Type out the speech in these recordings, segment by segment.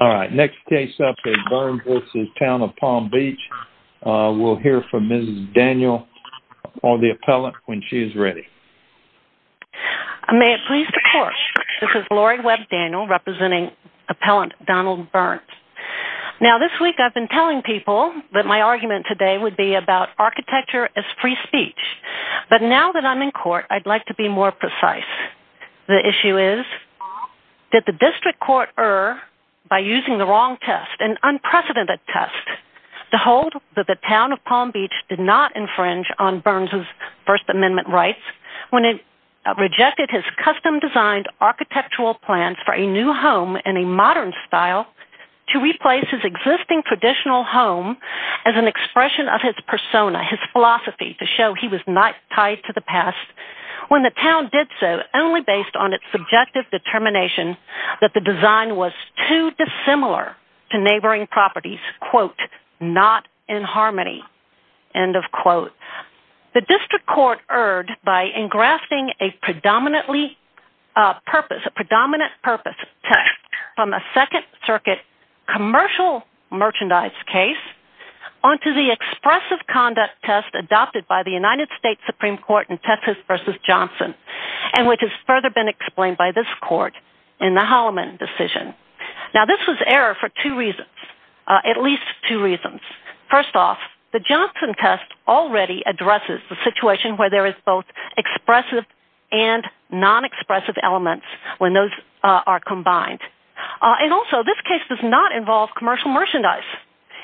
All right, next case up is Burns v. Town of Palm Beach. We'll hear from Mrs. Daniel or the appellant when she is ready. May it please the court, this is Lori Webb Daniel representing appellant Donald Burns. Now this week I've been telling people that my argument today would be about architecture as free speech, but now that I'm in court I'd like to be more using the wrong test, an unprecedented test to hold that the Town of Palm Beach did not infringe on Burns' First Amendment rights when it rejected his custom-designed architectural plans for a new home in a modern style to replace his existing traditional home as an expression of his persona, his philosophy, to show he was not tied to the past when the town did so only based on subjective determination that the design was too dissimilar to neighboring properties, quote, not in harmony, end of quote. The district court erred by engrafting a predominantly purpose, a predominant purpose test from a second circuit commercial merchandise case onto the expressive conduct test adopted by the United States Supreme Court in Texas v. Johnson and which has further been explained by this court in the Holloman decision. Now this was error for two reasons, at least two reasons. First off, the Johnson test already addresses the situation where there is both expressive and non-expressive elements when those are combined. And also this case does not involve commercial merchandise.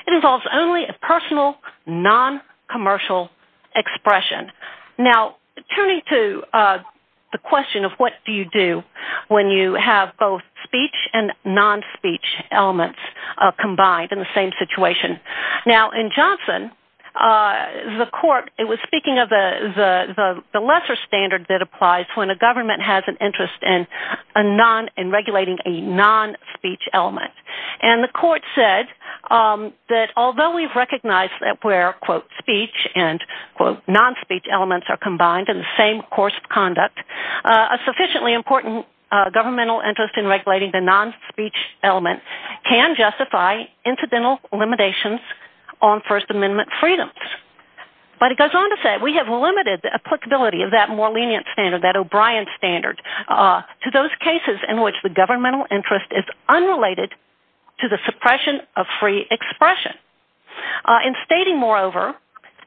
It involves only a personal non-commercial expression. Now turning to the question of what do you do when you have both speech and non-speech elements combined in the same situation. Now in Johnson, the court, it was speaking of the lesser standard that applies when a government has an interest in regulating a non-speech element. And the court said that although we've recognized that where, quote, speech and, quote, non-speech elements are combined in the same course of conduct, a sufficiently important governmental interest in regulating the non-speech element can justify incidental limitations on First Amendment freedoms. But it goes on to say we have limited the applicability of that more lenient standard, that O'Brien standard, to those cases in which the governmental interest is unrelated to the suppression of free expression. In stating, moreover,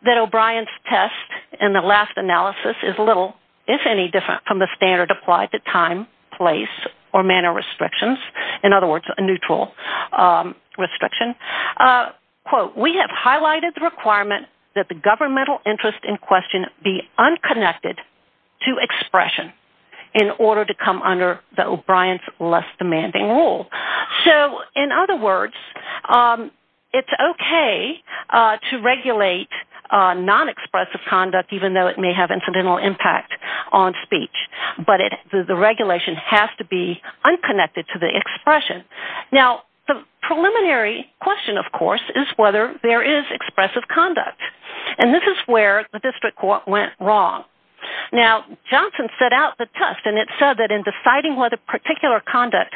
that O'Brien's test in the last analysis is little, if any, different from the standard applied to time, place, or manner restrictions. In other words, a neutral restriction. Quote, we have highlighted the requirement that the governmental interest in question be unconnected to expression in order to come under the O'Brien's less demanding rule. So in other words, it's okay to regulate non-expressive conduct even though it may have incidental impact on speech. But the regulation has to be unconnected to the expression. Now, the preliminary question, of course, is whether there is expressive conduct. And this is where the district court went wrong. Now, Johnson set out the test, and it said that in deciding whether particular conduct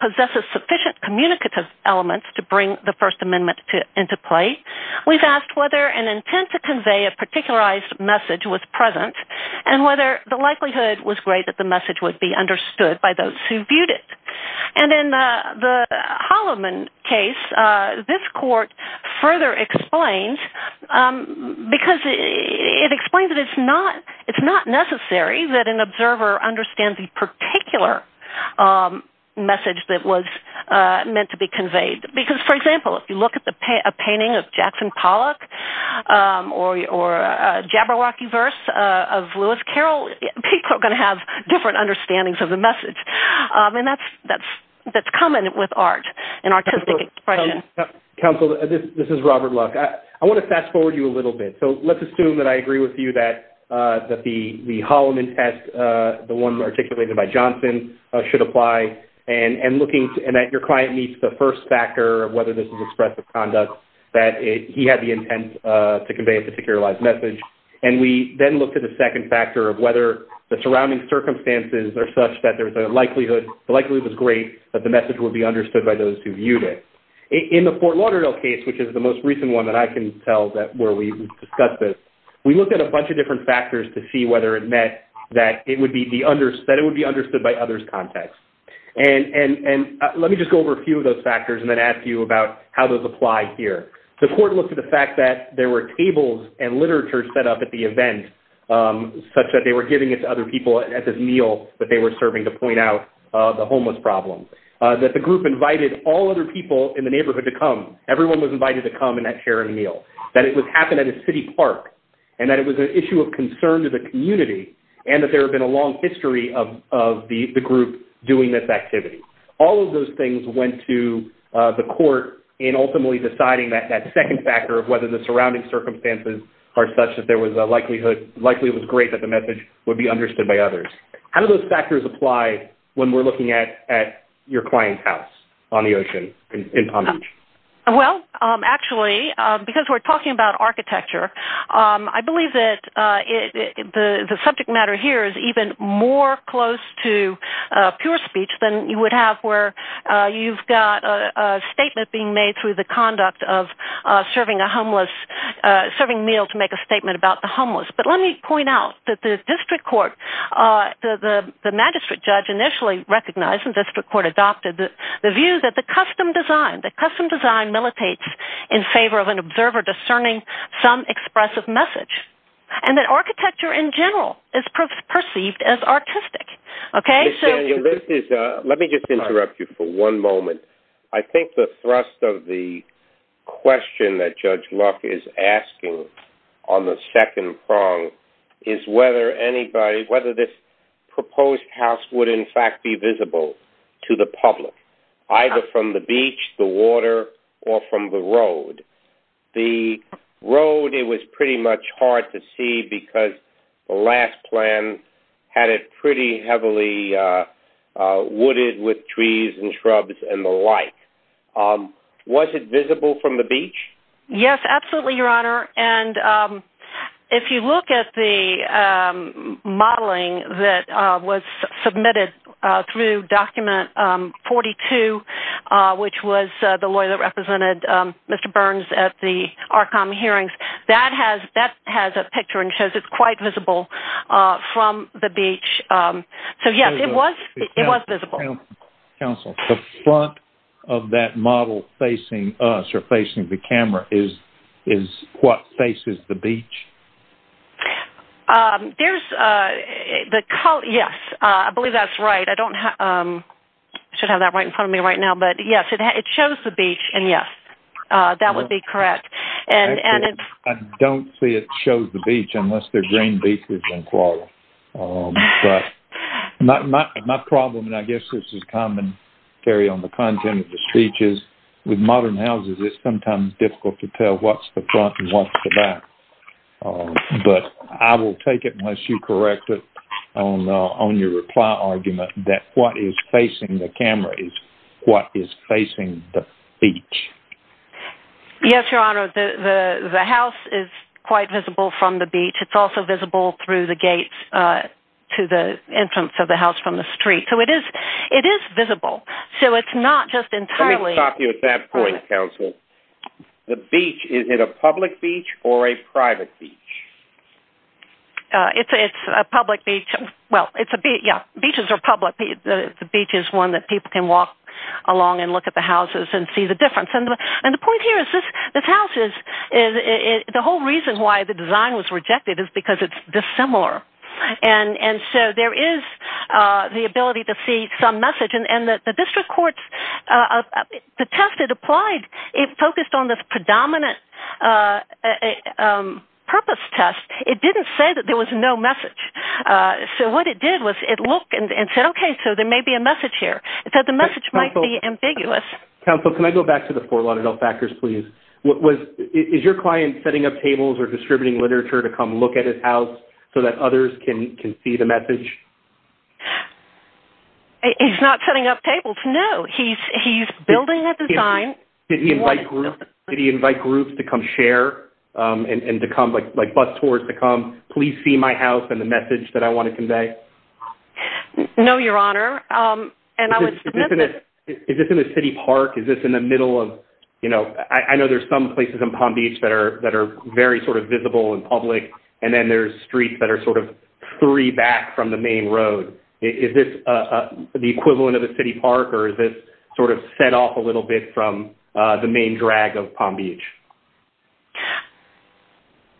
possesses sufficient communicative elements to bring the First Amendment into play, we've asked whether an intent to convey a particularized message was present, and whether the likelihood was great that the message would be understood by those who viewed it. And in the Holloman case, this court further explains, because it explains that it's not necessary that an observer understand the particular message that was meant to be conveyed. Because, for example, if you look at a painting of Jackson Pollock or a Jabberwocky of Lewis Carroll, people are going to have different understandings of the message. And that's common with art and artistic expression. Counsel, this is Robert Luck. I want to fast forward you a little bit. So let's assume that I agree with you that the Holloman test, the one articulated by Johnson, should apply, and that your client meets the first factor of whether this is expressive conduct, that he had the intent to convey a particularized message. And we then look at the second factor of whether the surrounding circumstances are such that the likelihood was great that the message would be understood by those who viewed it. In the Fort Lauderdale case, which is the most recent one that I can tell where we discussed this, we looked at a bunch of different factors to see whether it meant that it would be understood by others' context. And let me just go over a few of those factors and then ask you about how those apply here. The court looked at the fact that there were tables and literature set up at the event such that they were giving it to other people at this meal that they were serving to point out the homeless problem, that the group invited all other people in the neighborhood to come. Everyone was invited to come and share a meal, that it would happen at a city park, and that it was an issue of concern to the community, and that there had been a long history of the group doing this activity. All of those things went to the court in ultimately deciding that second factor of whether the surrounding circumstances are such that there was a likelihood likely it was great that the message would be understood by others. How do those factors apply when we're looking at your client's house on the ocean in Palm Beach? Well, actually, because we're talking about architecture, I believe that the subject matter here is even more close to pure speech than you would have where you've got a statement being made through the conduct of serving a meal to make a statement about the homeless. But let me point out that the district court, the magistrate judge initially recognized and district court adopted the view that the custom design, the custom design militates in favor of an observer discerning some expressive message, and that architecture in general is perceived as artistic. Let me just interrupt you for one moment. I think the thrust of the question that Judge Luck is asking on the second prong is whether anybody, whether this proposed house would in fact be road, it was pretty much hard to see because the last plan had it pretty heavily wooded with trees and shrubs and the like. Was it visible from the beach? Yes, absolutely, Your Honor. And if you look at the modeling that was submitted through document 42, which was the lawyer that represented Mr. Burns at the ARCOM hearings, that has a picture and shows it's quite visible from the beach. So yes, it was visible. Counsel, the front of that model facing us or facing the camera is what faces the beach? Yes, I believe that's right. I should have that right in front of me right now. But yes, it shows the beach and yes, that would be correct. I don't see it shows the beach unless they're green beaches in Florida. My problem, and I guess this is common, Terry, on the content of the speech is with modern houses, it's sometimes difficult to tell what's the front and what's the back. But I will take it unless you correct it on your reply argument that what is facing the camera is what is facing the beach. Yes, Your Honor. The house is quite visible from the beach. It's also visible through the gates to the entrance of the house from the street. So it is visible. So it's not just entirely... Let me stop you at that point, Counsel. The beach, is it a public beach or a private beach? It's a public beach. Well, it's a beach. Yeah, beaches are public. The beach is one that people can walk along and look at the houses and see the difference. And the point here is this house is, the whole reason why the design was rejected is because it's dissimilar. And so there is the ability to see some message. And the district courts, the test that applied, it focused on this predominant purpose test. It didn't say that there was no message. So what it did was it looked and said, okay, so there may be a message here. It said the message might be ambiguous. Counsel, can I go back to the Fort Lauderdale factors, please? Is your client setting up tables or distributing literature to come look at his house so that others can see the message? He's not setting up tables. No, he's building a design. Did he invite groups to come share and to come, like bus tours to come, please see my house and the message that I want to convey? No, Your Honor. And I would... Is this in a city park? Is this in the middle of... I know there's some places in Palm Beach that are very sort of visible and public. And then there's streets that are sort of three back from the main road. Is this the equivalent of a city park or is this sort of set off a little bit from the main drag of Palm Beach?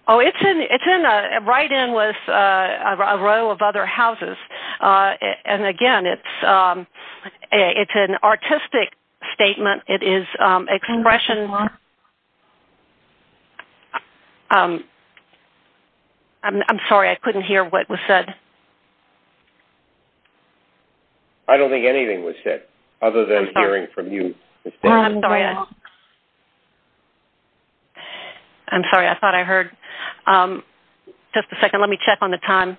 Oh, it's right in with a row of other houses. And again, it's an artistic statement. It is a congressional... I'm sorry. I couldn't hear what was said. I don't think anything was said other than hearing from you. I'm sorry. I thought I heard. Just a second. Let me check on the time.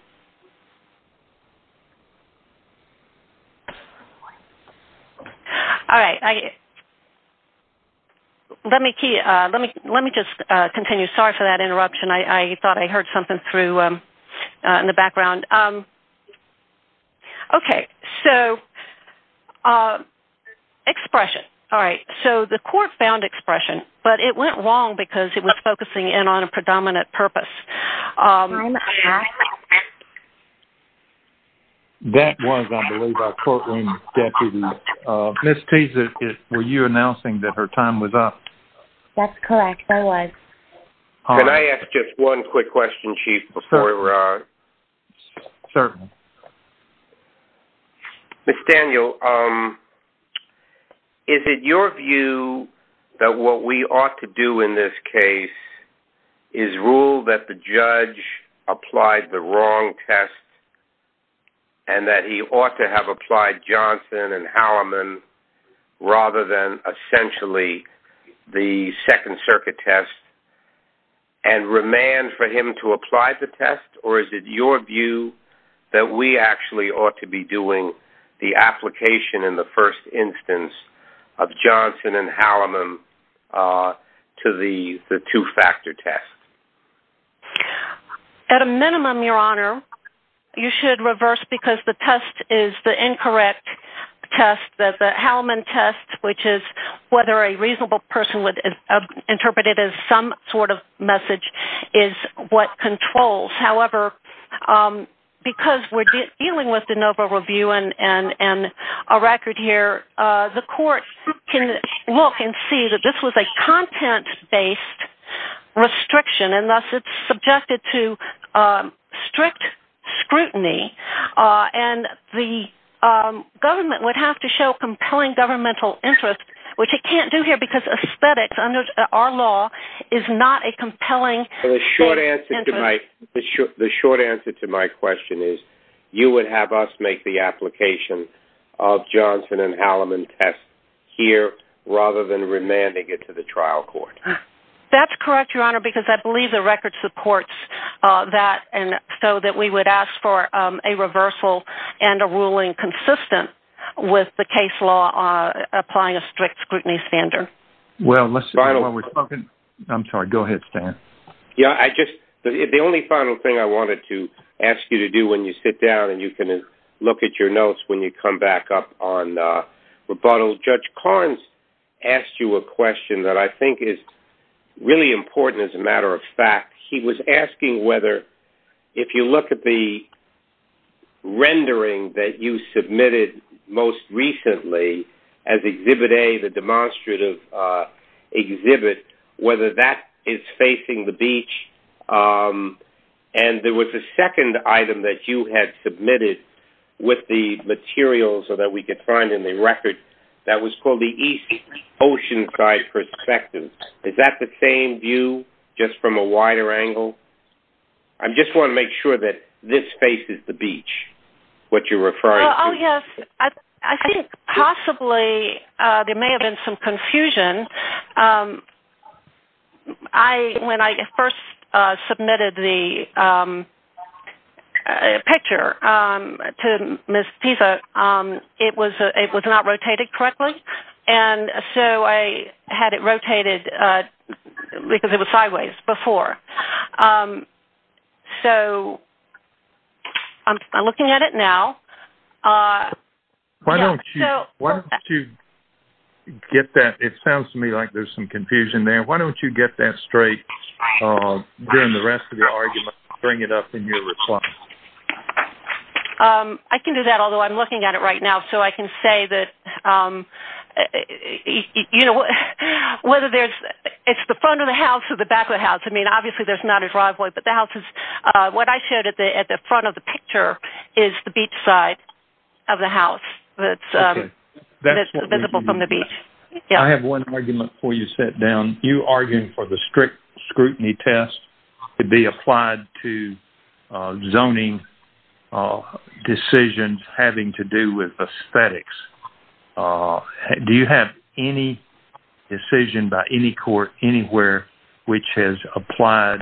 All right. Let me just continue. Sorry for that interruption. I thought I heard something through in the background. Okay. So expression. All right. So the court found expression, but it went wrong because it was focusing in on a predominant purpose. That was, I believe, our courtroom deputy. Ms. Teeza, were you announcing that her time was up? That's correct. I was. Can I ask just one quick question, Chief, before we run? Certainly. Ms. Daniel, is it your view that what we ought to do in this case is rule that the judge applied the wrong test and that he ought to have applied Johnson and Halliman rather than essentially the Second Circuit test and remand for him to apply the test? Or is it your view that we actually ought to be doing the application in the first instance of Johnson and Halliman to the two-factor test? At a minimum, Your Honor, you should reverse because the test is the incorrect test. The Halliman test, which is whether a reasonable person would interpret it as some sort of message, is what controls. However, because we're dealing with the NOVA review and a record here, the court can look and see that this was a content-based restriction, and thus it's subjected to strict scrutiny. And the government would have to show compelling governmental interest, which it can't do here because aesthetics under our law is not a compelling interest. The short answer to my question is you would have us make the application of Johnson and Halliman test here rather than remanding it to the trial court. That's correct, Your Honor, because I believe the record supports that, and so that we would ask for a reversal and a ruling consistent with the case law applying a strict scrutiny standard. Well, let's do it while we're talking. I'm sorry, go ahead, Stan. Yeah, I just, the only final thing I wanted to ask you to do when you sit down and you can look at your notes when you come back up on rebuttal, Judge Carnes asked you a question that I think is really important as a matter of fact. He was asking whether, if you look at the rendering that you submitted most recently as Exhibit A, the demonstrative exhibit, whether that is facing the beach, and there was a second item that you had submitted with the material so that we could find in the record that was called the East Oceanside Perspective. Is that the same view just from a wider angle? I just want to make sure that this faces the beach, what you're referring to. Oh, yes. I think possibly there may have been some confusion. When I first submitted the picture to Ms. Pisa, it was not rotated correctly, and so I had it rotated because it was sideways before. So I'm looking at it now. Why don't you get that? It sounds to me like there's some confusion there. Why don't you get that straight during the rest of your argument and bring it up in your reply? I can do that, although I'm looking at it right now. So I can say that, whether there's, it's the front of the house or the back of the house. I mean, obviously there's not a driveway, but the house is, what I showed at the front of the picture is the beach side of the house that's visible from the beach. I have one argument before you sit down. You argued for the strict scrutiny test to be applied to zoning decisions having to do with aesthetics. Do you have any decision by any court anywhere which has applied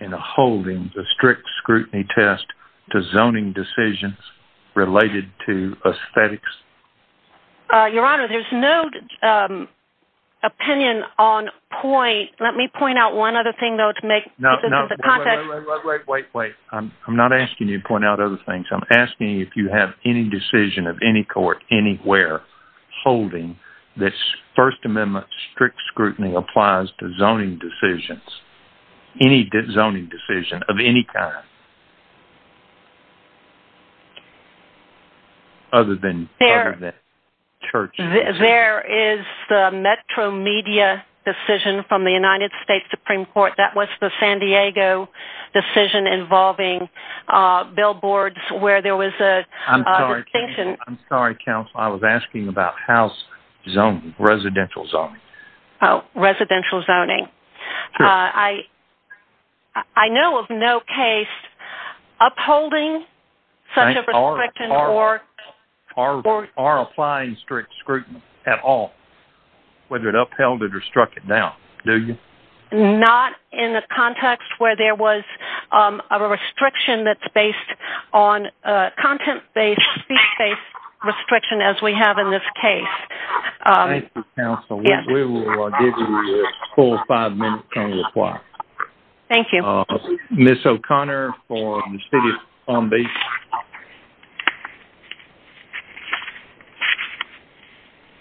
in a holding the strict scrutiny test to zoning decisions related to aesthetics? Your Honor, there's no opinion on point. Let me point out one other thing, though, to make contact. Wait, wait, wait. I'm not asking you to point out other things. I'm asking you if you have any decision of any court anywhere holding this First Amendment strict scrutiny applies to zoning decisions, any zoning decision of any kind, other than churches. There is the Metro Media decision from the United States Supreme Court. That was the San Diego decision involving billboards where there was a distinction. I'm sorry, counsel. I was asking about house zoning, residential zoning. Oh, residential zoning. I know of no case upholding such a restriction or... Are applying strict scrutiny at all, whether it upheld it or struck it down, do you? Not in the context where there was a restriction that's based on content-based, speech-based restriction as we have in this case. Thank you, counsel. We will give you a full five minutes on your clock. Thank you. Ms. O'Connor from the City of Palm Beach.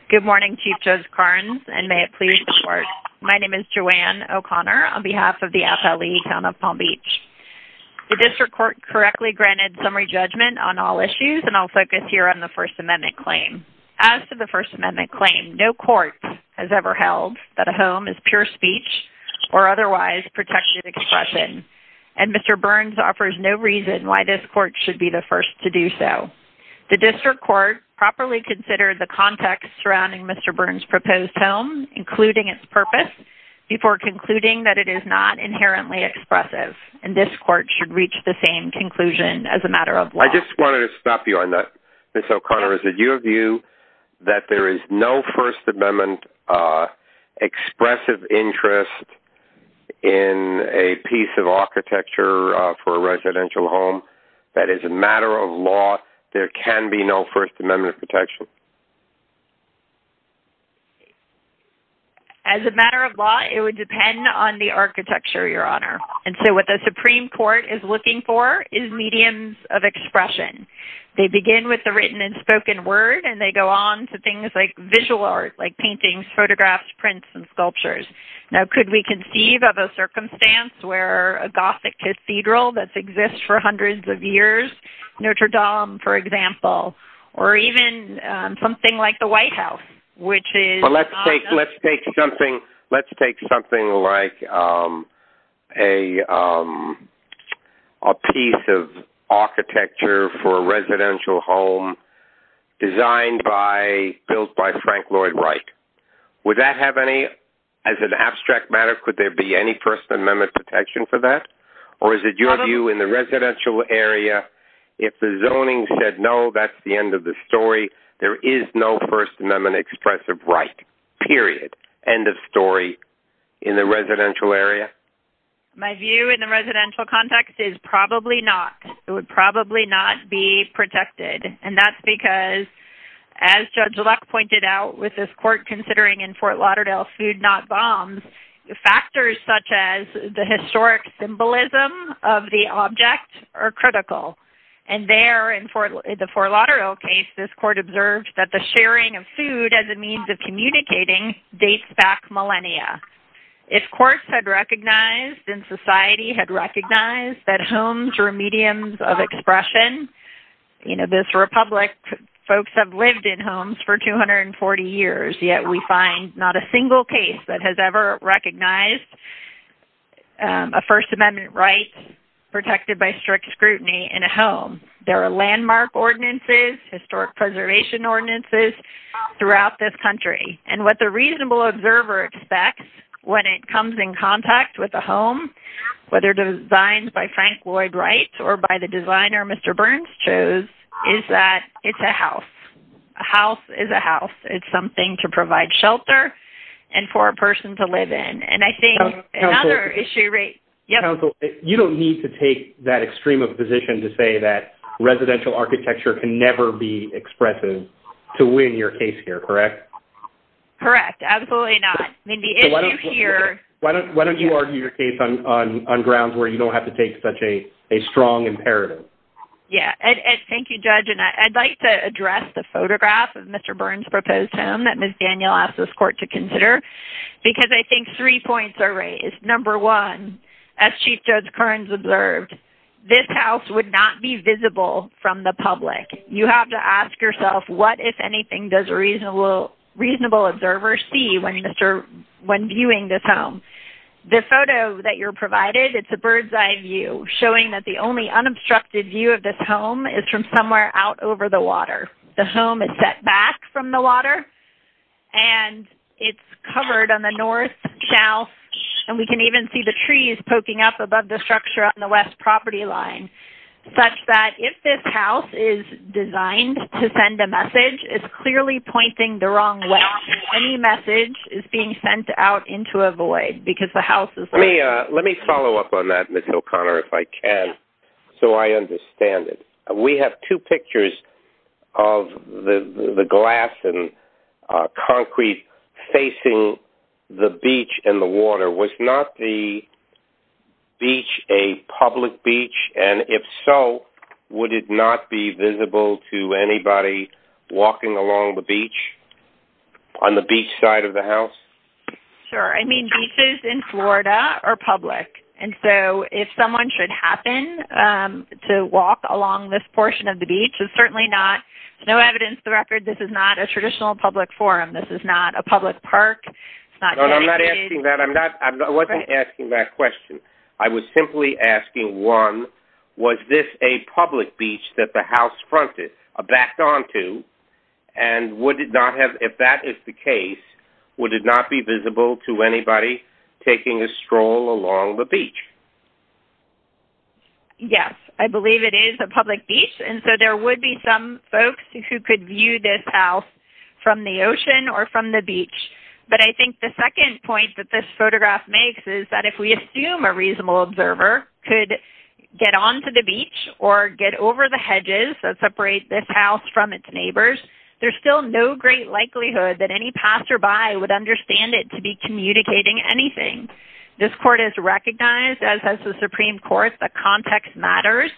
Good morning, Chief Judge Karnes, and may it please the Court. My name is Joanne O'Connor on behalf of the FLE Town of Palm Beach. The District Court correctly granted summary judgment on all issues, and I'll focus here on the First Amendment claim. As to the First Amendment claim, no court has ever held that a home is pure speech or otherwise protected expression, and Mr. Burns offers no reason why this court should be the first to do so. The District Court properly considered the context surrounding Mr. Burns' proposed home, including its purpose, before concluding that it is not inherently expressive, and this court should reach the same conclusion as a matter of law. I just wanted to stop you on that. Ms. O'Connor, is it your view that there is no First Amendment expressive interest in a piece of architecture for a residential home that is a matter of law, there can be no First Amendment protection? As a matter of law, it would depend on the architecture, Your Honor. And so what the They begin with the written and spoken word, and they go on to things like visual art, like paintings, photographs, prints, and sculptures. Now, could we conceive of a circumstance where a Gothic cathedral that's existed for hundreds of years, Notre Dame, for example, or even something like the White House, which is... for a residential home designed by, built by Frank Lloyd Wright. Would that have any, as an abstract matter, could there be any First Amendment protection for that? Or is it your view in the residential area, if the zoning said no, that's the end of the story, there is no First Amendment expressive right, period, end of story, in the residential area? My view in the residential context is probably not, it would probably not be protected. And that's because, as Judge Luck pointed out, with this court considering in Fort Lauderdale, food not bombs, factors such as the historic symbolism of the object are critical. And there in the Fort Lauderdale case, this court observed that the sharing of food as a means of communicating dates back millennia. If courts had recognized and society had recognized that homes were mediums of expression, you know, this Republic, folks have lived in homes for 240 years, yet we find not a single case that has ever recognized a First Amendment right protected by strict scrutiny in a home. There are landmark ordinances, historic preservation ordinances throughout this country. And what the reasonable observer expects, when it comes in contact with the home, whether designed by Frank Lloyd Wright, or by the designer Mr. Burns chose, is that it's a house. A house is a house, it's something to provide shelter, and for a person to live in. And I think another issue... Counsel, you don't need to take that extreme of a position to say that residential architecture can never be expressive to win your case here, correct? Correct. Absolutely not. I mean, the issue here... Why don't you argue your case on grounds where you don't have to take such a strong imperative? Yeah. And thank you, Judge. And I'd like to address the photograph of Mr. Burns' proposed home that Ms. Daniel asked this court to consider, because I think three points are raised. Number one, as Chief Judge Kearns observed, this house would not be visible from the public. You have to ask yourself, what, if anything, does a reasonable observer see when viewing this home? The photo that you're provided, it's a bird's eye view, showing that the only unobstructed view of this home is from somewhere out over the water. The home is set back from the water, and it's covered on the north, south, and we can even see the trees poking up above the structure on the west property line, such that if this house is designed to send a message, it's clearly pointing the wrong way. Any message is being sent out into a void, because the house is... Let me follow up on that, Ms. O'Connor, if I can, so I understand it. We have two pictures of the glass and concrete facing the beach and the water. Was not the beach a public beach, and if so, would it not be visible to anybody walking along the beach, on the beach side of the house? Sure. I mean, beaches in Florida are public, and so if someone should happen to walk along this portion of the beach, it's certainly not. There's no evidence to the record this is not a traditional public forum. This is not a public park. It's not dedicated... No, I'm not asking that. I'm not... I wasn't asking that question. I was simply asking, one, was this a public beach that the house fronted, backed onto, and would it not have... If that is the case, would it not be visible to anybody taking a stroll along the beach? Yes, I believe it is a public beach, and so there would be some folks who could view this house from the ocean or from the beach, but I think the second point that this photograph makes is that if we assume a reasonable observer could get onto the beach or get over the hedges that separate this house from its neighbors, there's still no great likelihood that any passerby would understand it to be communicating anything. This court has recognized, as has the Supreme Court, that context matters,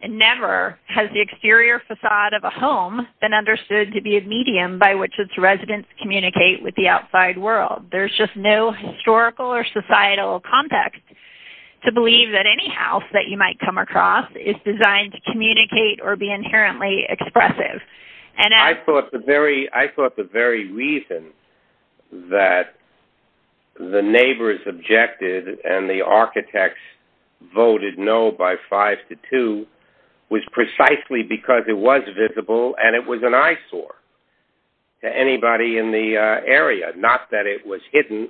and never has the exterior facade of a home been understood to be a medium by which its residents communicate with the outside world. There's just no historical or societal context to believe that any house that you might come across is designed to communicate or be inherently expressive. I thought the very reason that the neighbors objected and the architects voted no by five to two was precisely because it was visible and it was an eyesore to anybody in the area. Not that it was hidden,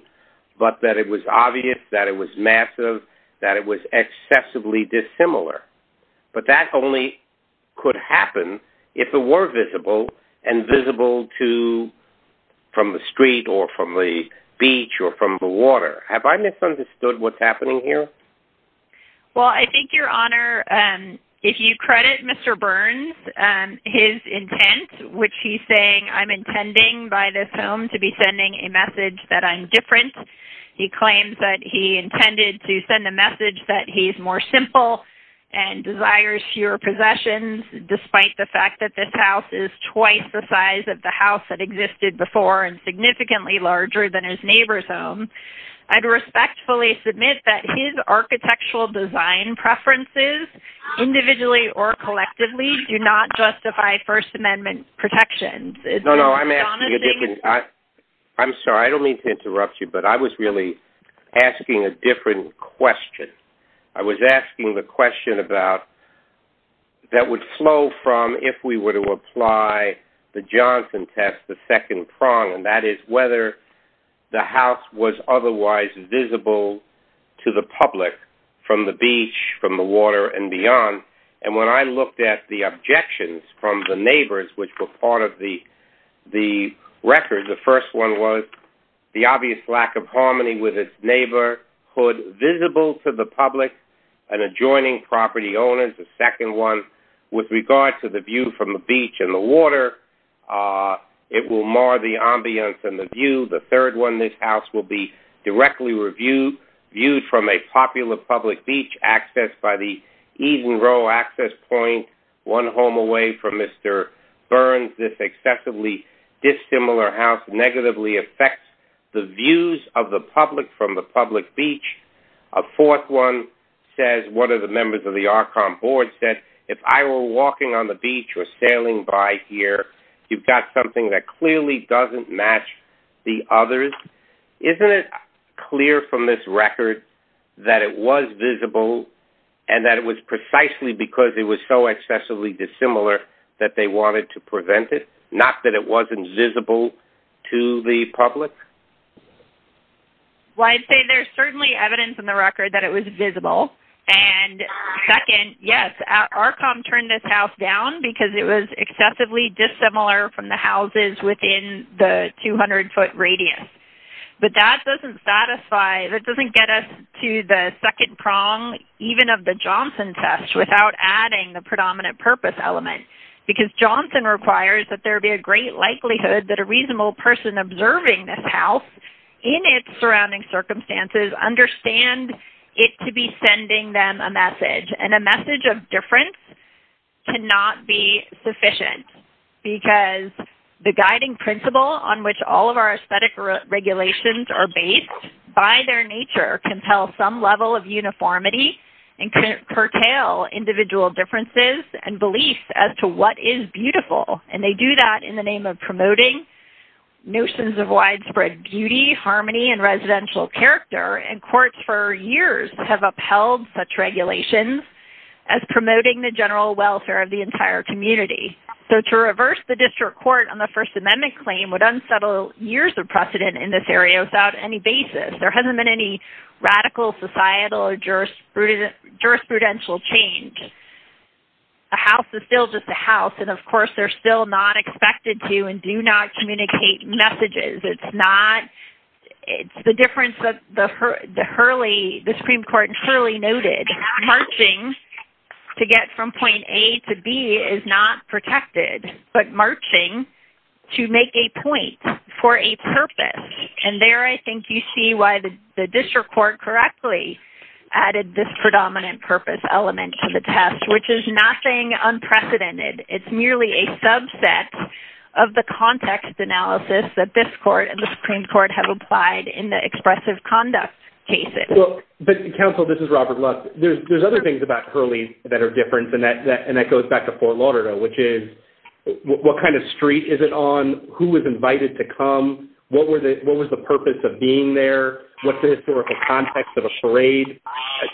but that it was obvious, that it was massive, that it was excessively dissimilar, but that only could happen if it were visible and visible to from the street or from the beach or from the water. Have I misunderstood what's happening here? Well, I think, Your Honor, if you credit Mr. Burns, his intent, which he's saying, I'm intending by this home to be sending a message that I'm different, he claims that he intended to send a message that he's more simple and desires fewer possessions, despite the fact that this house is twice the size of the house that existed before and significantly larger than his neighbor's home, I'd respectfully submit that his architectural design preferences, individually or collectively, do not justify First Amendment protections. No, no, I'm asking a different, I'm sorry, I don't mean to interrupt you, but I was really asking a different question. I was asking the question about that would flow from if we were to apply the Johnson test, the second prong, and that is whether the house was otherwise visible to the public from the beach, from the water and beyond. And when I looked at the objections from the neighbors, which were part of the record, the first one was the obvious lack of harmony with its neighborhood visible to the public and adjoining property owners. The second one, with regard to the view from the beach and the water, it will mar the ambience and the view. The third one, this house will be directly reviewed, viewed from a popular public beach, accessed by the Eden Row access point, one home away from Mr. Burns. This excessively dissimilar house negatively affects the views of the public from the public beach. A fourth one says, one of the members of the Archon board said, if I were walking on the beach or sailing by here, you've got something that clearly doesn't match the others. Isn't it clear from this record that it was visible and that it was precisely because it was so excessively dissimilar that they wanted to prevent it? Not that it wasn't visible to the public? Well, I'd say there's certainly evidence in the record that it was visible. And second, yes, Archon turned this house down because it was excessively dissimilar from the houses within the 200 foot radius. But that doesn't satisfy, that doesn't get us to the second prong, even of the Johnson test, without adding the predominant purpose element. Because Johnson requires that there be a great likelihood that a reasonable person observing this house in its surrounding circumstances understand it to be sending them a message. And a message of Because the guiding principle on which all of our aesthetic regulations are based by their nature can tell some level of uniformity and curtail individual differences and beliefs as to what is beautiful. And they do that in the name of promoting notions of widespread beauty, harmony, and residential character. And courts for years have upheld such regulations as promoting the general welfare of the entire community. So to reverse the district court on the First Amendment claim would unsettle years of precedent in this area without any basis. There hasn't been any radical societal or jurisprudential change. A house is still just a house. And of course, they're still not expected to and do not communicate messages. It's not, it's the difference that the Hurley, the Supreme Court Hurley noted, marching to get from point A to B is not protected, but marching to make a point for a purpose. And there, I think you see why the district court correctly added this predominant purpose element to the test, which is nothing unprecedented. It's merely a subset of the context analysis that this court and the Supreme Court have applied in the expressive conduct cases. Well, but counsel, this is Robert Luck. There's other things about Hurley that are different than that. And that goes back to Fort Lauderdale, which is what kind of street is it on? Who was invited to come? What were the, what was the purpose of being there? What's the historical context of a parade?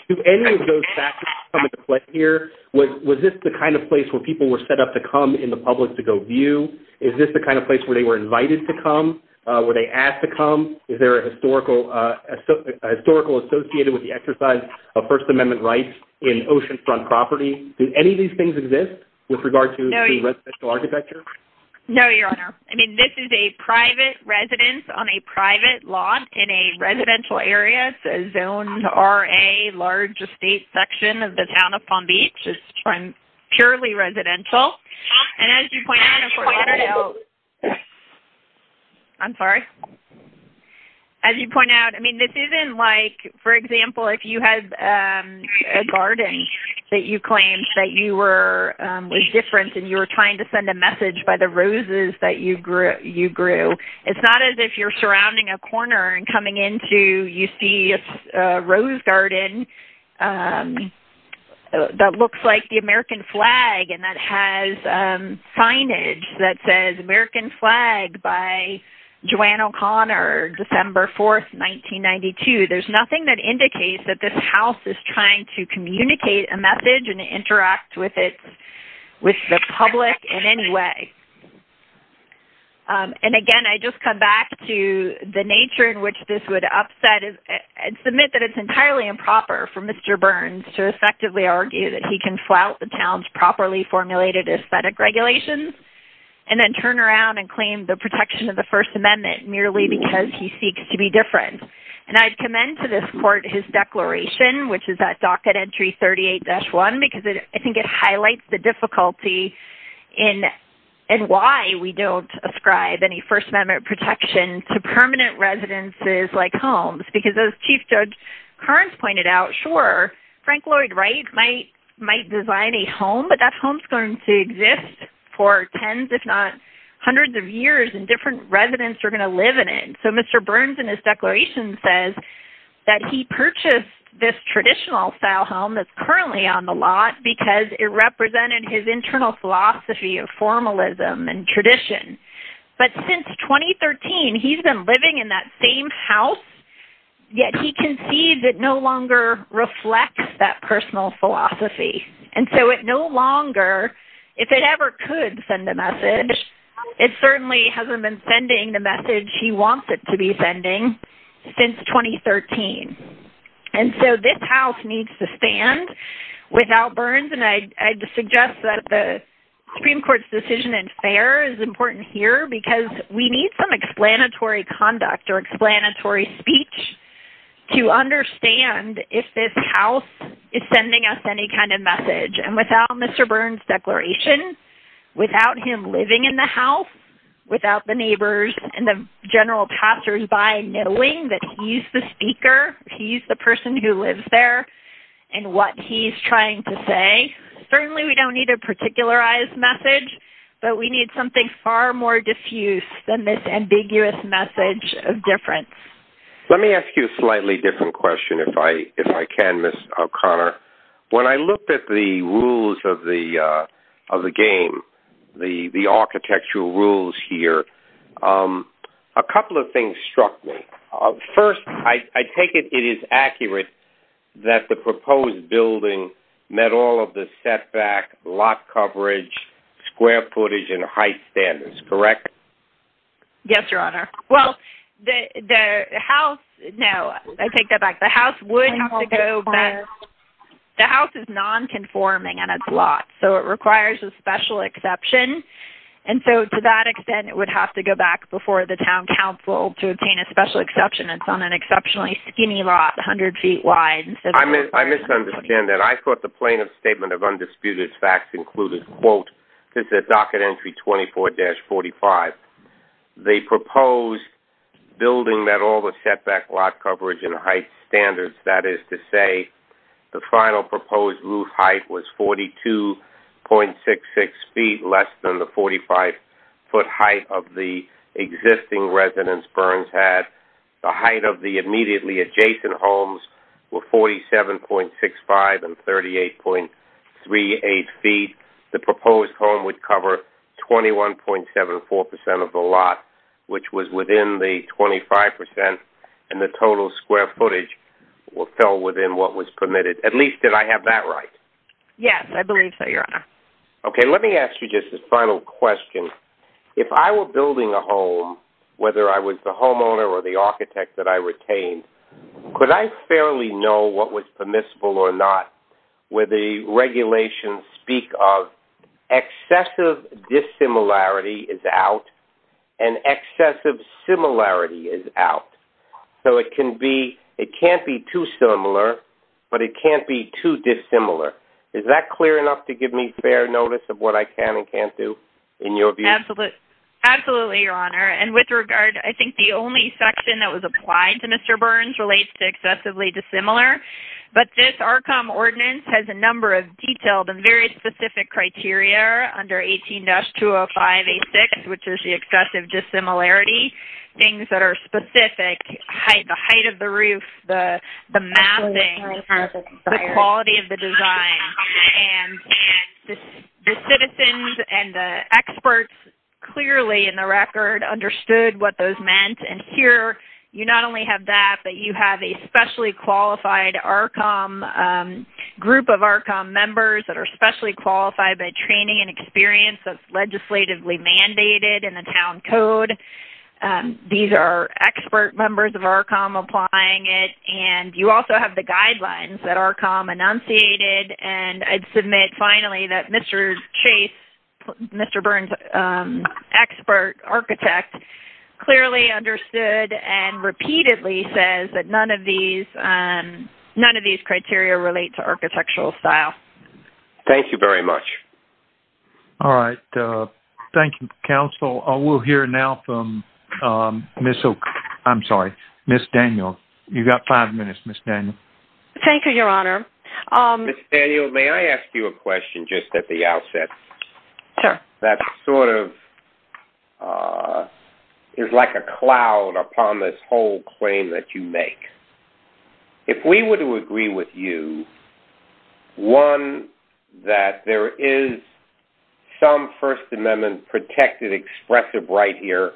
Do any of those factors come into play here? Was this the kind of place where people were set up to come in the public to go view? Is this the kind of place where they were asked to come? Is there a historical associated with the exercise of First Amendment rights in oceanfront property? Do any of these things exist with regard to residential architecture? No, your honor. I mean, this is a private residence on a private lot in a residential area. It's a zone RA, large estate section of the town of Palm Beach. It's purely residential. And as you point out, I mean, this isn't like, for example, if you had a garden that you claimed that you were, was different and you were trying to send a message by the roses that you grew, you grew. It's not as if you're surrounding a corner and coming into, you see a rose garden that looks like the American flag and that has signage that says American flag by Joanne O'Connor, December 4th, 1992. There's nothing that indicates that this house is trying to communicate a message and interact with it, with the public in any way. And again, I just come back to the nature in which this would upset and submit that it's highly improper for Mr. Burns to effectively argue that he can flout the town's properly formulated aesthetic regulations and then turn around and claim the protection of the first amendment merely because he seeks to be different. And I'd commend to this court, his declaration, which is that docket entry 38 dash one, because I think it highlights the difficulty in and why we don't ascribe any first amendment protection to permanent residences like homes, because as chief judge Kearns pointed out, sure, Frank Lloyd Wright might, might design a home, but that home's going to exist for tens, if not hundreds of years and different residents are going to live in it. So Mr. Burns in his declaration says that he purchased this traditional style home that's currently on the lot because it represented his internal philosophy of formalism and tradition. But since 2013, he's been living in that same house yet he can see that no longer reflects that personal philosophy. And so it no longer, if it ever could send a message, it certainly hasn't been sending the message he wants it to be sending since 2013. And so this house needs to stand without Burns. And I, I just suggest that the Supreme court's decision and fair is important here because we need some explanatory conduct or explanatory speech to understand if this house is sending us any kind of message and without Mr. Burns declaration, without him living in the house, without the neighbors and the general pastors by knowing that he's the speaker, he's the person who lives there and what he's trying to say. Certainly we don't need a particularized message, but we need something far more diffuse than this Let me ask you a slightly different question. If I, if I can, Miss O'Connor, when I looked at the rules of the, uh, of the game, the, the architectural rules here, um, a couple of things struck me first. I take it. It is accurate that the proposed building met all of the setback lot coverage, square footage, and height standards, correct? Yes, Your Honor. Well, the, the house, no, I take that back. The house wouldn't have to go back. The house is nonconforming and it's a lot, so it requires a special exception. And so to that extent, it would have to go back before the town council to obtain a special exception. It's on an exceptionally skinny lot, a hundred feet wide. I misunderstand that. I thought the plaintiff's statement of undisputed facts included, quote, this is a docket entry 24 dash 45. They proposed building that all the setback lot coverage and height standards. That is to say the final proposed roof height was 42.66 feet less than the 45 foot height of the existing residence Burns had the height of the immediately adjacent homes were 47.65 and 38.38 feet. The proposed home would cover 21.74% of the lot, which was within the 25% and the total square footage fell within what was permitted. At least did I have that right? Yes, I believe so, Your Honor. Okay. Let me ask you a final question. If I were building a home, whether I was the homeowner or the architect that I retained, could I fairly know what was permissible or not where the regulations speak of excessive dissimilarity is out and excessive similarity is out. So it can be, it can't be too similar, but it can't be too dissimilar. Is that clear enough to give me fair notice of what I can and can't do in your view? Absolutely, Your Honor. And with regard, I think the only section that was applied to Mr. Burns relates to excessively dissimilar, but this RCOM ordinance has a number of detailed and very specific criteria under 18-205A6, which is the excessive dissimilarity. Things that are specific height, the height of the roof, the mapping, the quality of the design, and the citizens and the experts clearly in the record understood what those meant. And here, you not only have that, but you have a specially qualified RCOM group of RCOM members that are specially qualified by training and experience that's legislatively mandated in the town code. These are expert members of RCOM applying it, and you also have the guidelines that RCOM enunciated, and I'd submit finally that Mr. Chase, Mr. Burns' expert architect, clearly understood and repeatedly says that none of these, none of these criteria relate to architectural style. Thank you very much. All right. Thank you, counsel. We'll hear now from I'm sorry, Ms. Daniel. You've got five minutes, Ms. Daniel. Thank you, Your Honor. Ms. Daniel, may I ask you a question just at the outset? Sure. That sort of is like a cloud upon this whole claim that you make. If we were to agree with you, one, that there is some First Amendment protected expressive right here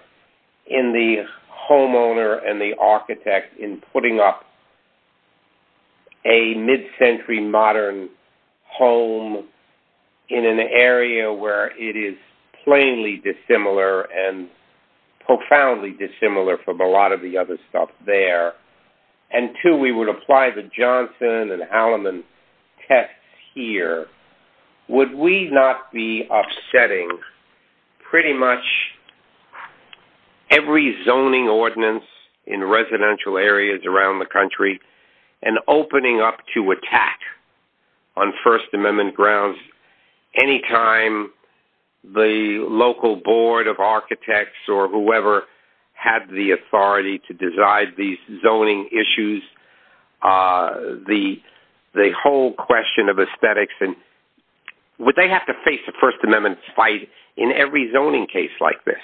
in the homeowner and the architect in putting up a mid-century modern home in an area where it is plainly dissimilar and profoundly dissimilar from a lot of the other stuff there, and two, we would apply the Johnson and Alleman tests here, would we not be upsetting pretty much every zoning ordinance in residential areas around the country and opening up to attack on First Amendment grounds any time the local board of architects or whoever had the authority to design these zoning issues, the whole question of aesthetics? Would they have to face a First Amendment fight in every zoning case like this?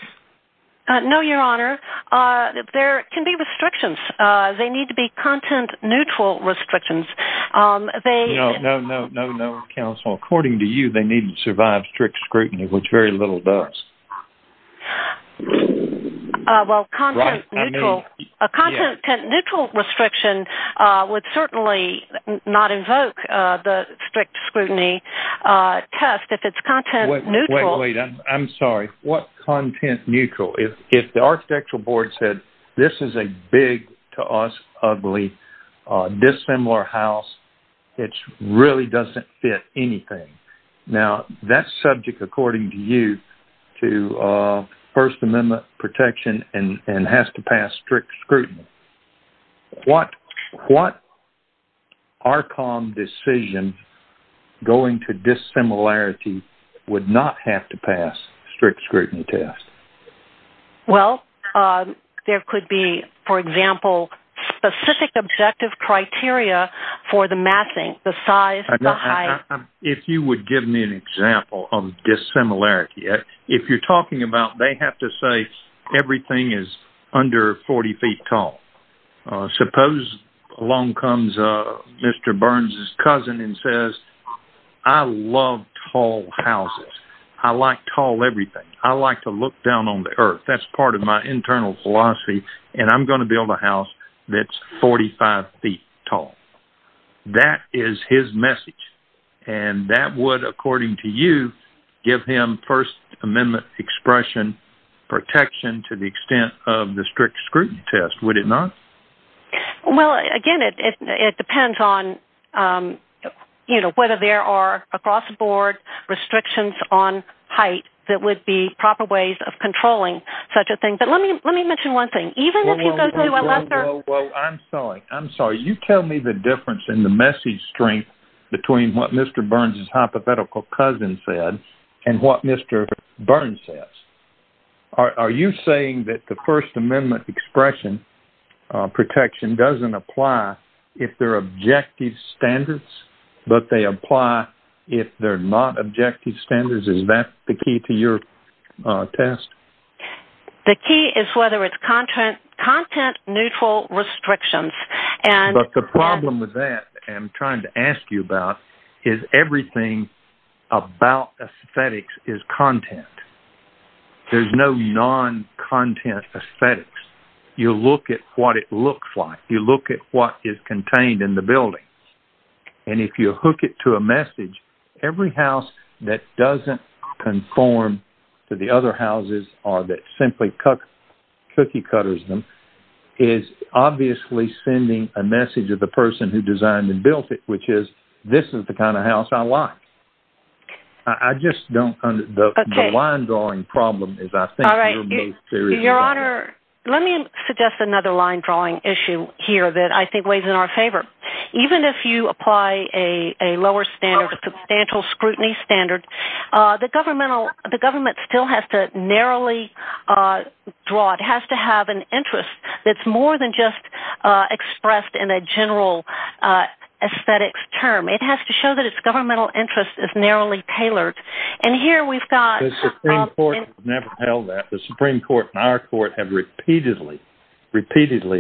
No, Your Honor. There can be restrictions. They need to be content-neutral restrictions. No, no, counsel. According to you, they need to survive strict scrutiny, which very little does. Well, a content-neutral restriction would certainly not invoke the strict scrutiny test if it's content-neutral. Wait, wait, I'm sorry. What content-neutral? If the architectural board said, this is a big, to us, ugly, dissimilar house, it really doesn't fit anything. Now, that's subject, according to you, to First Amendment protection and has to pass strict scrutiny. What RCOM decision going to dissimilarity would not have to pass strict scrutiny test? Well, there could be, for example, specific objective criteria for the matching, the size, if you would give me an example of dissimilarity. If you're talking about, they have to say, everything is under 40 feet tall. Suppose along comes Mr. Burns's cousin and says, I love tall houses. I like tall everything. I like to look down on the earth. That's part of my internal philosophy, and I'm going to build a house that's 45 feet tall. That is his message, and that would, according to you, give him First Amendment expression protection to the extent of the strict scrutiny test, would it not? Well, again, it depends on whether there are across the board restrictions on height that would be proper ways of controlling such a thing. Let me mention one thing. Even if you go to a lesser... Well, I'm sorry. I'm sorry. You tell me the difference in the message strength between what Mr. Burns's hypothetical cousin said and what Mr. Burns says. Are you saying that the First Amendment expression protection doesn't apply if they're objective standards, but they apply if they're not objective standards? Is that the key to your test? The key is whether it's content-neutral restrictions. But the problem with that, I'm trying to ask you about, is everything about aesthetics is content. There's no non-content aesthetics. You look at what it looks like. You look at what is contained in the building, and if you hook it to a message, every house that doesn't conform to the other houses or that simply cookie-cutters them is obviously sending a message to the person who designed and built it, which is, this is the kind of house I like. The line drawing problem is, I think... Your Honor, let me suggest another line drawing issue here that I think weighs in our favor. Even if you apply a lower standard, substantial scrutiny standard, the government still has to narrowly draw. It has to have an interest that's more than just expressed in a general aesthetics term. It has to show that its governmental interest is narrowly tailored. And here we've got... The Supreme Court has never held that. The Supreme Court and our court have repeatedly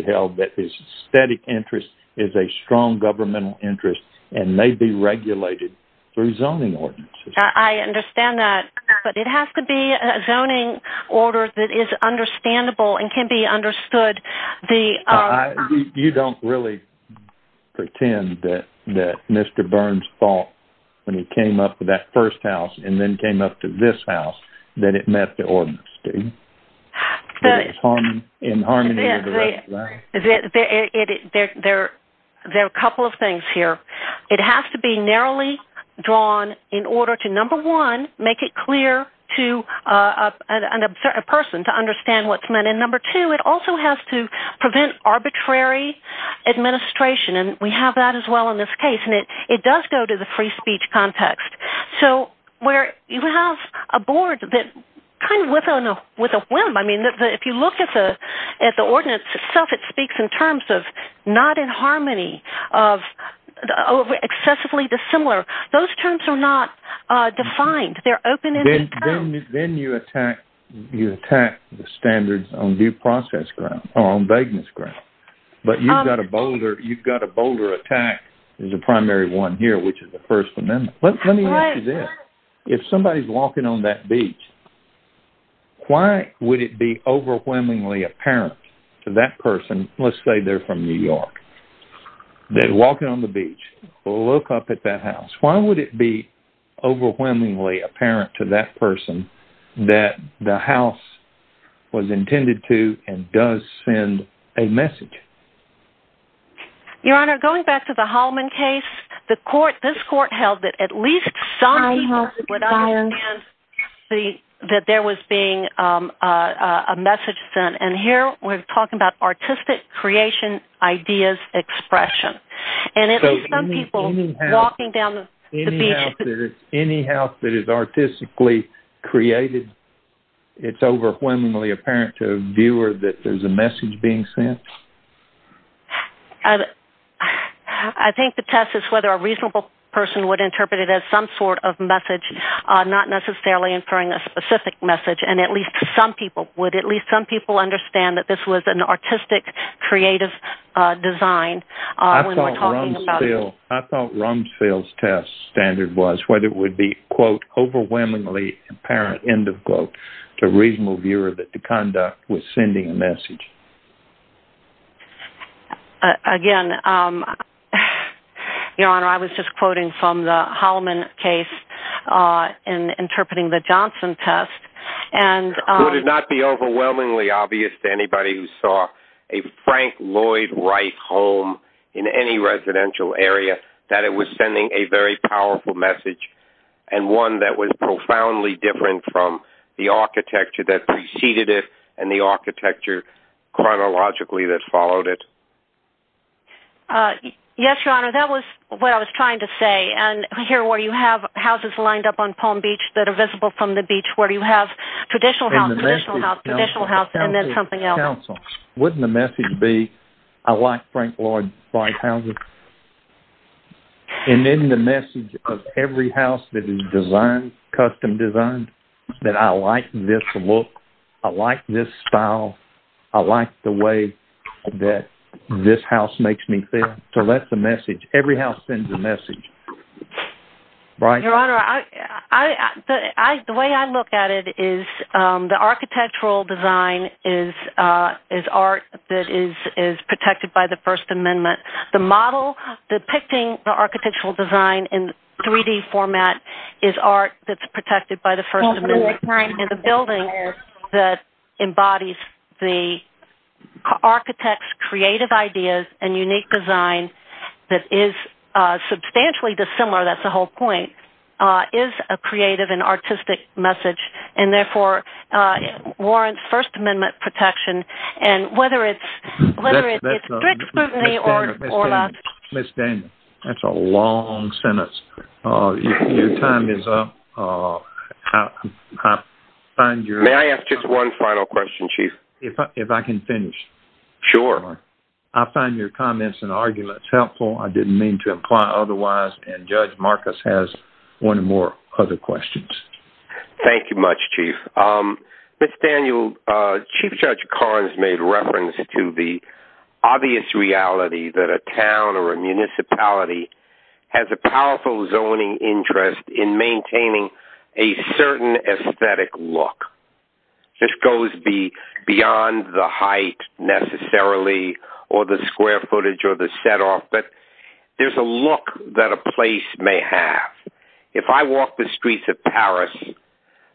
held that its aesthetic interest is a strong governmental interest and may be regulated through zoning ordinances. I understand that, but it has to be a zoning order that is understandable and can be understood. You don't really pretend that Mr. Burns thought when he came up to that first house and then came up to this house that it met the ordinance. There are a couple of things here. It has to be narrowly drawn in order to, number one, make it clear to a person to understand what's meant. And number two, it also has to prevent arbitrary administration. And we have that as well in this board that kind of went on with a whim. I mean, if you look at the ordinance itself, it speaks in terms of not in harmony, of excessively dissimilar. Those terms are not defined. They're open-ended terms. Then you attack the standards on due process ground or on vagueness ground. But you've got a bolder attack as a primary one here, which is the first amendment. Let me ask you this. If somebody's walking on that beach, why would it be overwhelmingly apparent to that person? Let's say they're from New York. They're walking on the beach. Look up at that house. Why would it be overwhelmingly apparent to that person that the house was intended to and does send a message? Your Honor, going back to the Holloman case, this court held that at least some people would understand that there was being a message sent. And here, we're talking about artistic creation ideas expression. And at least some people walking down the beach... Any house that is artistically created, it's overwhelmingly apparent to a viewer that there's message being sent? I think the test is whether a reasonable person would interpret it as some sort of message, not necessarily incurring a specific message. And at least some people would. At least some people understand that this was an artistic, creative design. I thought Rumsfeld's test standard was whether it would be quote, or... Again, Your Honor, I was just quoting from the Holloman case in interpreting the Johnson test. Would it not be overwhelmingly obvious to anybody who saw a Frank Lloyd Wright home in any residential area that it was sending a very powerful message and one that was profoundly different from the architecture that preceded it and the architecture chronologically that followed it? Yes, Your Honor, that was what I was trying to say. And here, where you have houses lined up on Palm Beach that are visible from the beach, where you have traditional house, traditional house, traditional house, and then something else. Wouldn't the message be, I like Frank Lloyd Wright houses? And then the message of every house that is designed, custom designed, that I like this look, I like this style, I like the way that this house makes me feel. So that's the message. Every house sends a message. Your Honor, the way I look at it is the architectural design is art that is protected by the First Amendment. The model depicting the architectural design in 3D format is art that's protected by the First Amendment. And the building that embodies the architect's creative ideas and unique design that is substantially dissimilar, that's the whole point, is a creative and artistic message and therefore warrants First Amendment protection. And whether it's direct scrutiny or not. Ms. Daniel, that's a long sentence. Your time is up. May I ask just one final question, Chief? If I can finish. Sure. I find your comments and arguments helpful. I didn't mean to imply otherwise. And Judge Marcus has one more other questions. Thank you much, Chief. Ms. Daniel, Chief Judge Karnes made reference to the obvious reality that a town or a municipality has a powerful zoning interest in maintaining a certain aesthetic look. This goes beyond the height necessarily or the square footage or the set off, but there's a look that a place may have. If I walk the streets of Paris,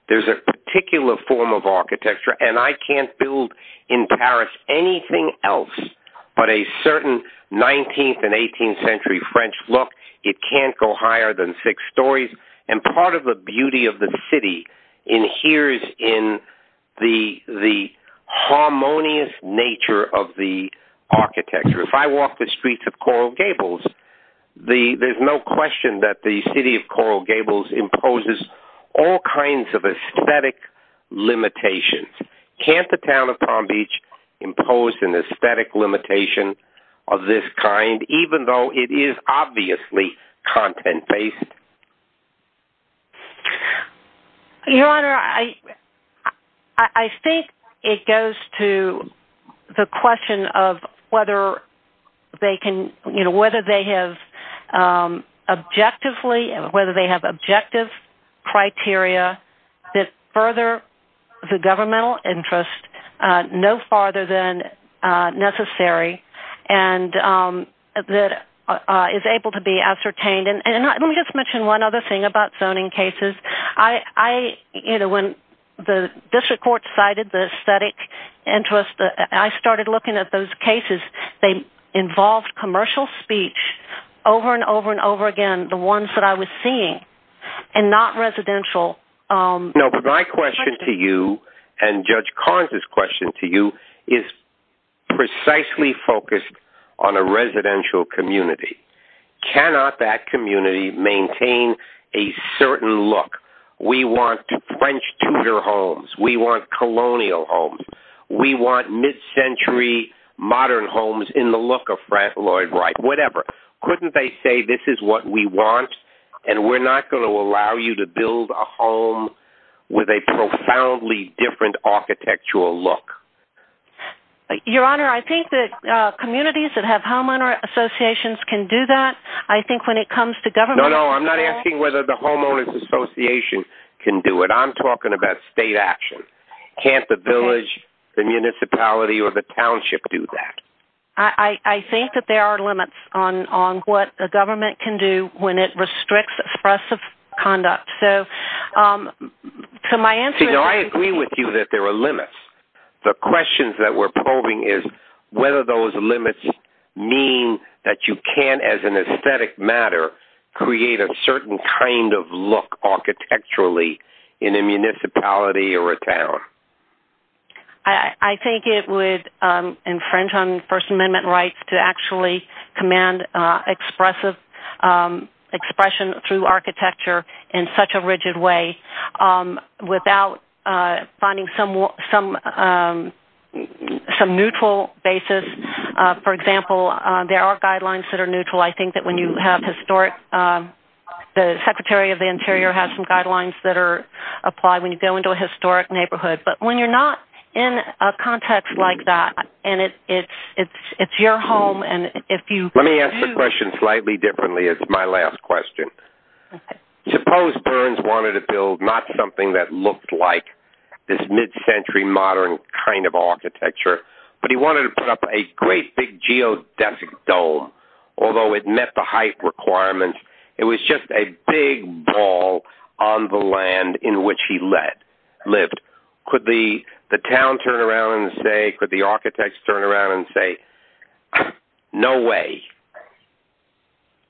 there's a particular form of architecture, and I can't build in Paris anything else but a certain 19th and 18th century French look. It can't go higher than six stories. And part of the beauty of the city inheres in the harmonious nature of the Coral Gables imposes all kinds of aesthetic limitations. Can't the town of Palm Beach impose an aesthetic limitation of this kind, even though it is obviously content-based? Your Honor, I think it goes to the question of whether they have objectives, whether they have objective criteria that further the governmental interest no farther than necessary and that is able to be ascertained. And let me just mention one other thing about zoning cases. When the district court cited the aesthetic interest, I started looking at those speech over and over and over again, the ones that I was seeing and not residential. No, but my question to you and Judge Karnes' question to you is precisely focused on a residential community. Cannot that community maintain a certain look? We want French Tudor homes. We want colonial homes. We want mid-century modern homes in the look of Frank Lloyd Wright, whatever. Couldn't they say this is what we want and we're not going to allow you to build a home with a profoundly different architectural look? Your Honor, I think that communities that have homeowner associations can do that. I think when it comes to government... No, no, I'm not asking whether the homeowner's association can do it. I'm talking about state action. Can't the village, the municipality, or the township do that? I think that there are limits on what the government can do when it restricts expressive conduct. So my answer is... You know, I agree with you that there are limits. The questions that we're probing is whether those limits mean that you can, as an aesthetic matter, create a certain kind of look architecturally in a municipality or a town. I think it would infringe on First Amendment rights to actually command expressive expression through architecture in such a rigid way without finding some neutral basis. For example, there are guidelines that are neutral. I think that when you have historic... The Secretary of the Interior has some guidelines that are applied when you go into a historic neighborhood. But when you're not in a context like that and it's your home and if you... Let me ask the question slightly differently. It's my last question. Suppose Burns wanted to build not something that looked like this mid-century modern kind of architecture, but he wanted to put up a great big geodesic dome, although it met the height requirements. It was just a big wall on the land in which he lived. Could the town turn around and say... Could the architects turn around and say, no way.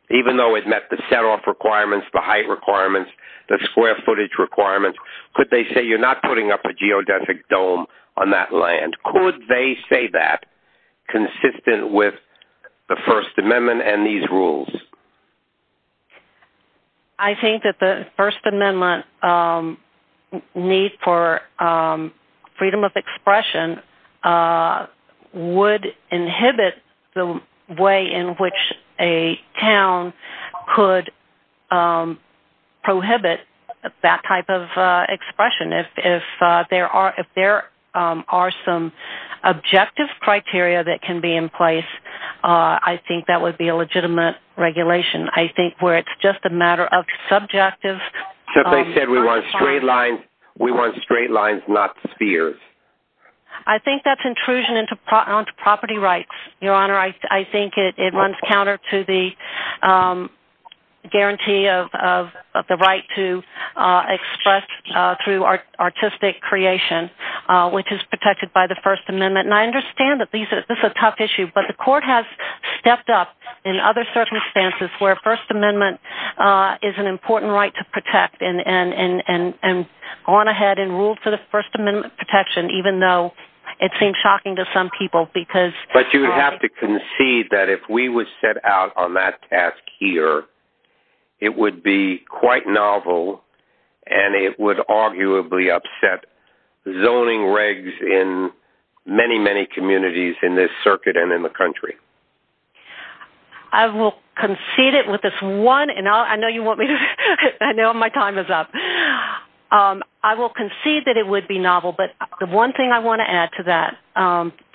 Even though it met the set-off requirements, the height requirements, the square footage requirements, could they say you're not putting up a geodesic dome on that land? Could they say that consistent with the First Amendment and these rules? I think that the First Amendment need for freedom of expression would inhibit the way in which a town could prohibit that type of expression. If there are some objective criteria that can be in I think where it's just a matter of subjective... If they said we want straight lines, we want straight lines, not spheres. I think that's intrusion into property rights, Your Honor. I think it runs counter to the guarantee of the right to express through artistic creation, which is protected by the First Amendment. I understand that this is a tough issue, but the court has stepped up in other circumstances where First Amendment is an important right to protect and gone ahead and ruled for the First Amendment protection, even though it seems shocking to some people because... But you would have to concede that if we would set out on that task here, it would be quite novel and it would arguably upset zoning regs in many, many communities in this circuit and in the country. I will concede it with this one, and I know you want me to... I know my time is up. I will concede that it would be novel, but the one thing I want to add to that,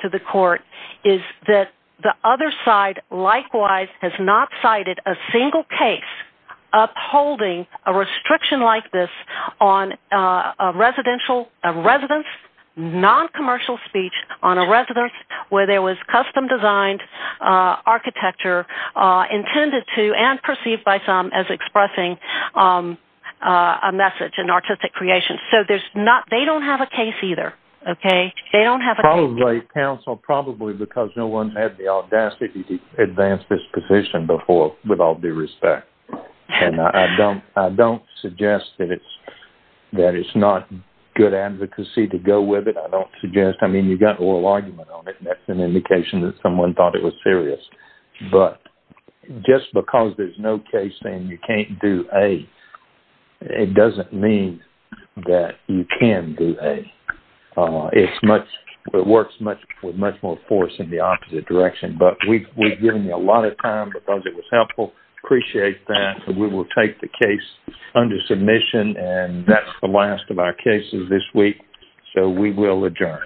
to the court, is that the other side likewise has not cited a single case upholding a restriction like this on a residential, a residence, non-commercial speech on a residence where there was custom-designed architecture intended to and perceived by some as expressing a message in artistic creation. So there's not... They don't have a case either, okay? They don't have a case. Probably, counsel, probably because no one had the audacity to suggest that it's not good advocacy to go with it. I don't suggest. I mean, you've got an oral argument on it, and that's an indication that someone thought it was serious. But just because there's no case saying you can't do A, it doesn't mean that you can do A. It's much... It works much more force in the opposite direction, but we've given you a lot of time because it was helpful. Appreciate that. We will take the case under submission, and that's the last of our cases this week. So we will adjourn.